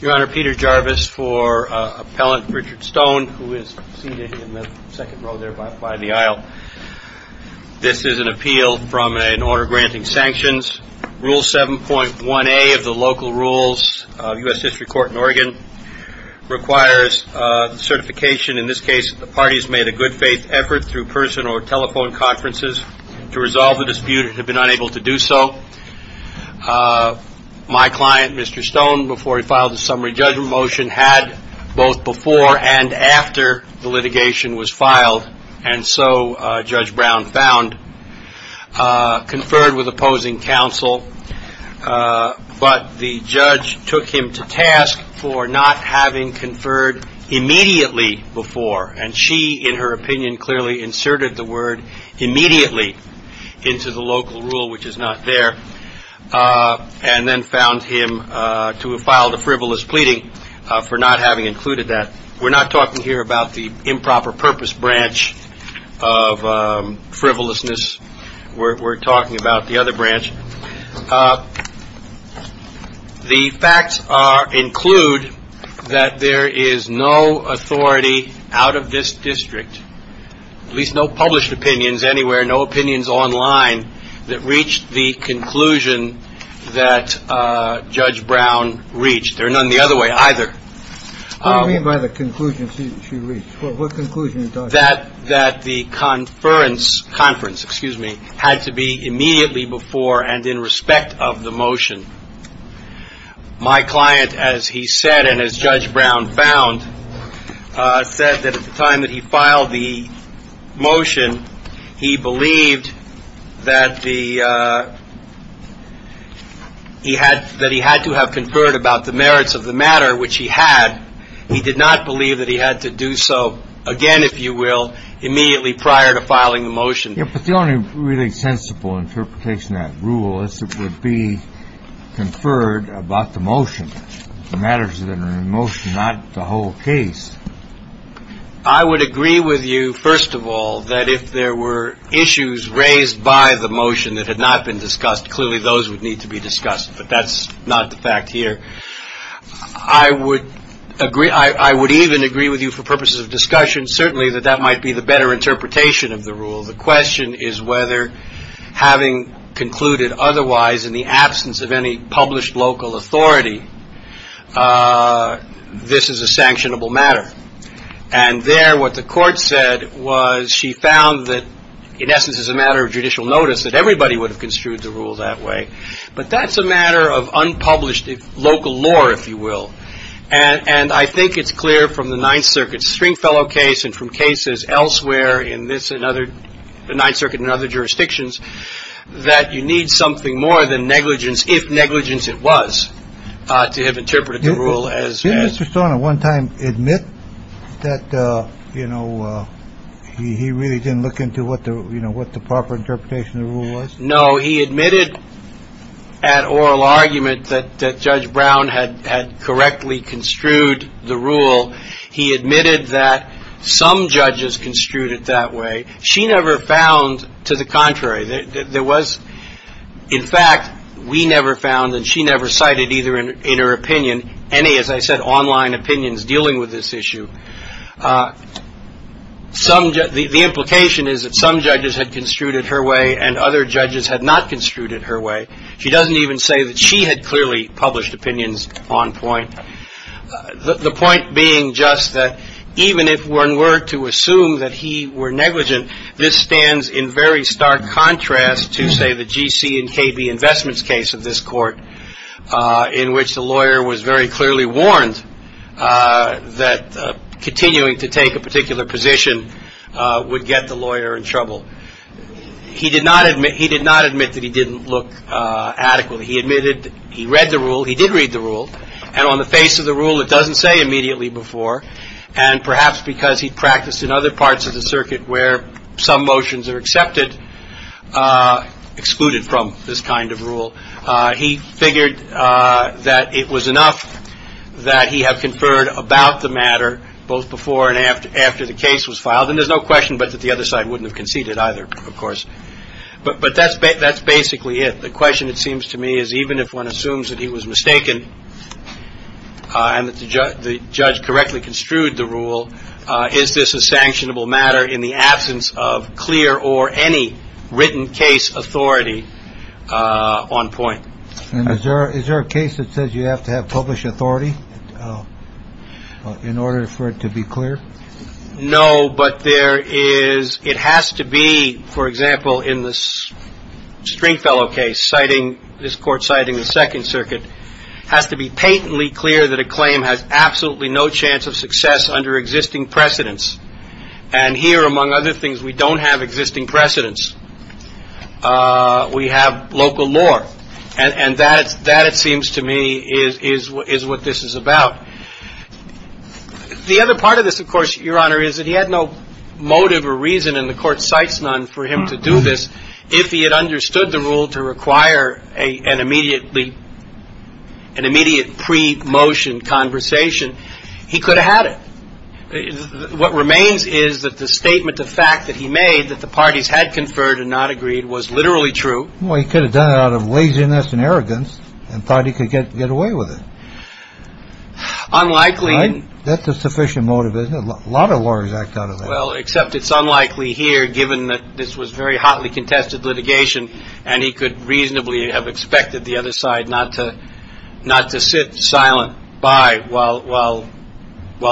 Your Honor, Peter Jarvis for Appellant Richard Stone, who is seated in the second row there by the aisle. This is an appeal from an order granting sanctions. Rule 7.1a of the local rules of U.S. History Court in Oregon requires certification, in this case, that the party has made a good faith effort through person or telephone conferences to resolve the dispute and has been unable to do so. My client, Mr. Stone, before he filed the summary judgment motion, had both before and after the litigation was filed, and so Judge Brown found, conferred with opposing counsel, but the judge took him to task for not having conferred immediately before. And she, in her opinion, clearly inserted the word immediately into the local rule, which is not there, and then found him to have filed a frivolous pleading for not having included that. We're not talking here about the improper purpose branch of frivolousness. We're talking about the other branch. The facts are, include that there is no authority out of this district, at least no published opinions anywhere, no opinions online that reached the conclusion that Judge Brown reached. There are none the other way either. What do you mean by the conclusion she reached? What conclusion? That the conference, excuse me, had to be immediately before and in respect of the motion. My client, as he said, and as Judge Brown found, said that at the time that he filed the motion, he believed that he had to have conferred about the merits of the matter, which he had. He did not believe that he had to do so again, if you will, immediately prior to filing the motion. Yeah, but the only really sensible interpretation of that rule is it would be conferred about the motion, the merits of the motion, not the whole case. I would agree with you, first of all, that if there were issues raised by the motion that had not been discussed, clearly those would need to be discussed. But that's not the fact here. I would even agree with you for purposes of discussion, certainly, that that might be the better interpretation of the rule. The question is whether having concluded otherwise in the absence of any published local authority, this is a sanctionable matter. And there what the court said was she found that in essence it's a matter of judicial notice that everybody would have construed the rule that way. But that's a matter of unpublished local law, if you will. And I think it's clear from the Ninth Circuit Stringfellow case and from cases elsewhere in this and other the Ninth Circuit and other jurisdictions that you need something more than negligence if negligence it was to have interpreted the rule as Mr. Stone at one time admit that, you know, he really didn't look into what the proper interpretation of the rule was. No, he admitted at oral argument that Judge Brown had correctly construed the rule. He admitted that some judges construed it that way. She never found to the contrary. There was in fact we never found and she never cited either in her opinion any, as I said, online opinions dealing with this issue. The implication is that some judges had construed it her way and other judges had not construed it her way. She doesn't even say that she had clearly published opinions on point. The point being just that even if one were to assume that he were negligent, this stands in very stark contrast to say the GC and KB Investments case of this court in which the lawyer was very clearly warned that continuing to take a particular position would get the lawyer in trouble. He did not admit he did not admit that he didn't look adequately. He admitted he read the rule. He did read the rule and on the face of the rule it doesn't say immediately before and perhaps because he practiced in other parts of the circuit where some motions are accepted, excluded from this kind of rule. He figured that it was enough that he have conferred about the matter both before and after the case was filed and there's no question but that the other side wouldn't have conceded either of course. But that's basically it. The question it seems to me is even if one assumes that he was mistaken and that the judge correctly construed the rule, is this a sanctionable matter in the absence of clear or any written case authority on point? And is there a case that says you have to have published authority in order for it to be clear? No, but there is it has to be, for example, in the Stringfellow case, citing this court citing the Second Circuit, has to be patently clear that a claim has absolutely no chance of success under existing precedents. And here among other things we don't have existing precedents. We have local law. And that it seems to me is what this is about. The other part of this, of course, Your Honor, is that he had no motive or reason and the court cites none for him to do this if he had understood the rule to require an immediate pre-motion conversation, he could have had it. What remains is that the statement of fact that he made that the parties had conferred and not agreed was literally true. Well, he could have done it out of laziness and arrogance and thought he could get away with it. Unlikely. That's a sufficient motive, isn't it? A lot of lawyers act out of that. Well, except it's unlikely here given that this was very hotly contested litigation and he could reasonably have expected the other side not to sit silent by while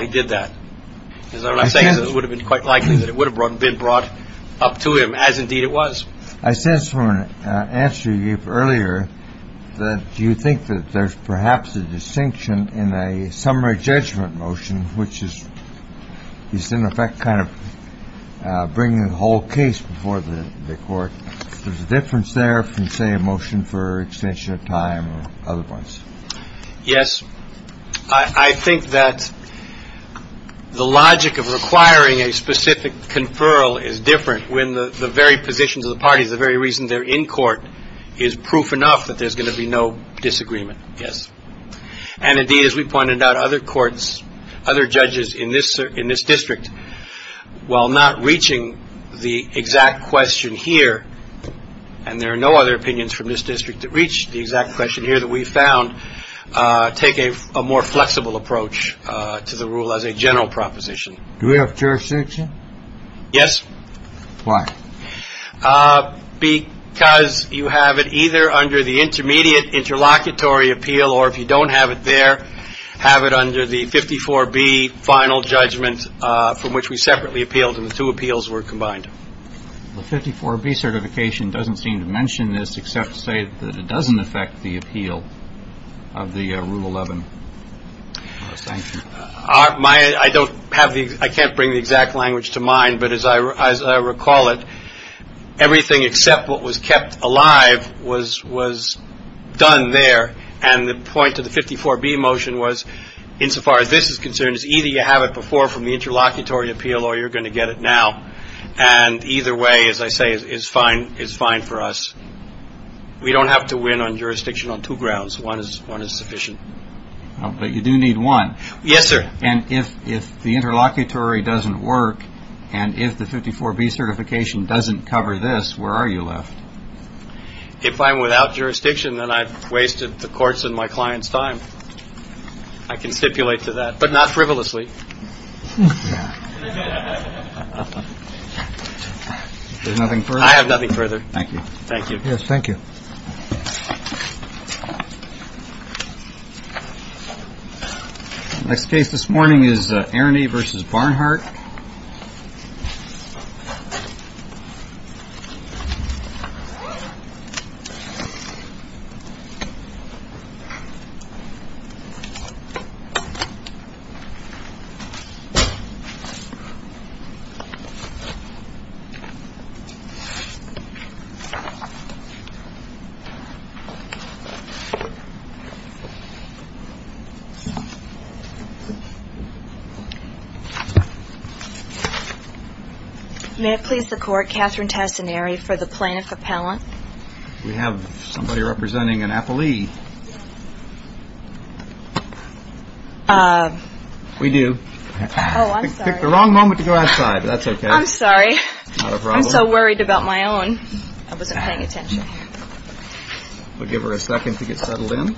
he did that. Is that what I'm saying? It would have been quite likely that it would have been brought up to him, as indeed it was. I sense from an answer you gave earlier that you think that there's perhaps a distinction in a summary judgment motion, which is in effect kind of bringing the whole case before the court. There's a difference there from, say, a motion for extension of time or other ones. Yes, I think that the logic of requiring a specific conferral is different when the very positions of the parties, the very reason they're in court, is proof enough that there's going to be no disagreement. Yes. And indeed, as we pointed out, other courts, other judges in this in this district, while not reaching the exact question here, and there are no other opinions from this district that reach the exact question here that we found, take a more flexible approach to the rule as a general proposition. Do we have jurisdiction? Yes. Why? Because you have it either under the intermediate interlocutory appeal or if you from which we separately appealed and the two appeals were combined. The 54B certification doesn't seem to mention this, except to say that it doesn't affect the appeal of the Rule 11 sanction. I don't have the I can't bring the exact language to mind. But as I recall it, everything except what was kept alive was was done there. And the point of the 54B motion was, insofar as this is concerned, is either you have it before from the interlocutory appeal or you're going to get it now. And either way, as I say, is fine, is fine for us. We don't have to win on jurisdiction on two grounds. One is one is sufficient, but you do need one. Yes, sir. And if if the interlocutory doesn't work and if the 54B certification doesn't cover this, where are you left? If I'm without jurisdiction, then I've wasted the courts and my clients time. I can stipulate to that, but not frivolously. There's nothing for I have nothing further. Thank you. Thank you. Yes. Thank you. Next case this morning is Ernie versus Barnhart. May it please the court, Catherine Tassinari for the plaintiff appellant. We have somebody representing an appellee. We do pick the wrong moment to go outside. That's OK. I'm sorry. I'm so worried about my own. I wasn't paying attention. We'll give her a second to get settled in. Thank you.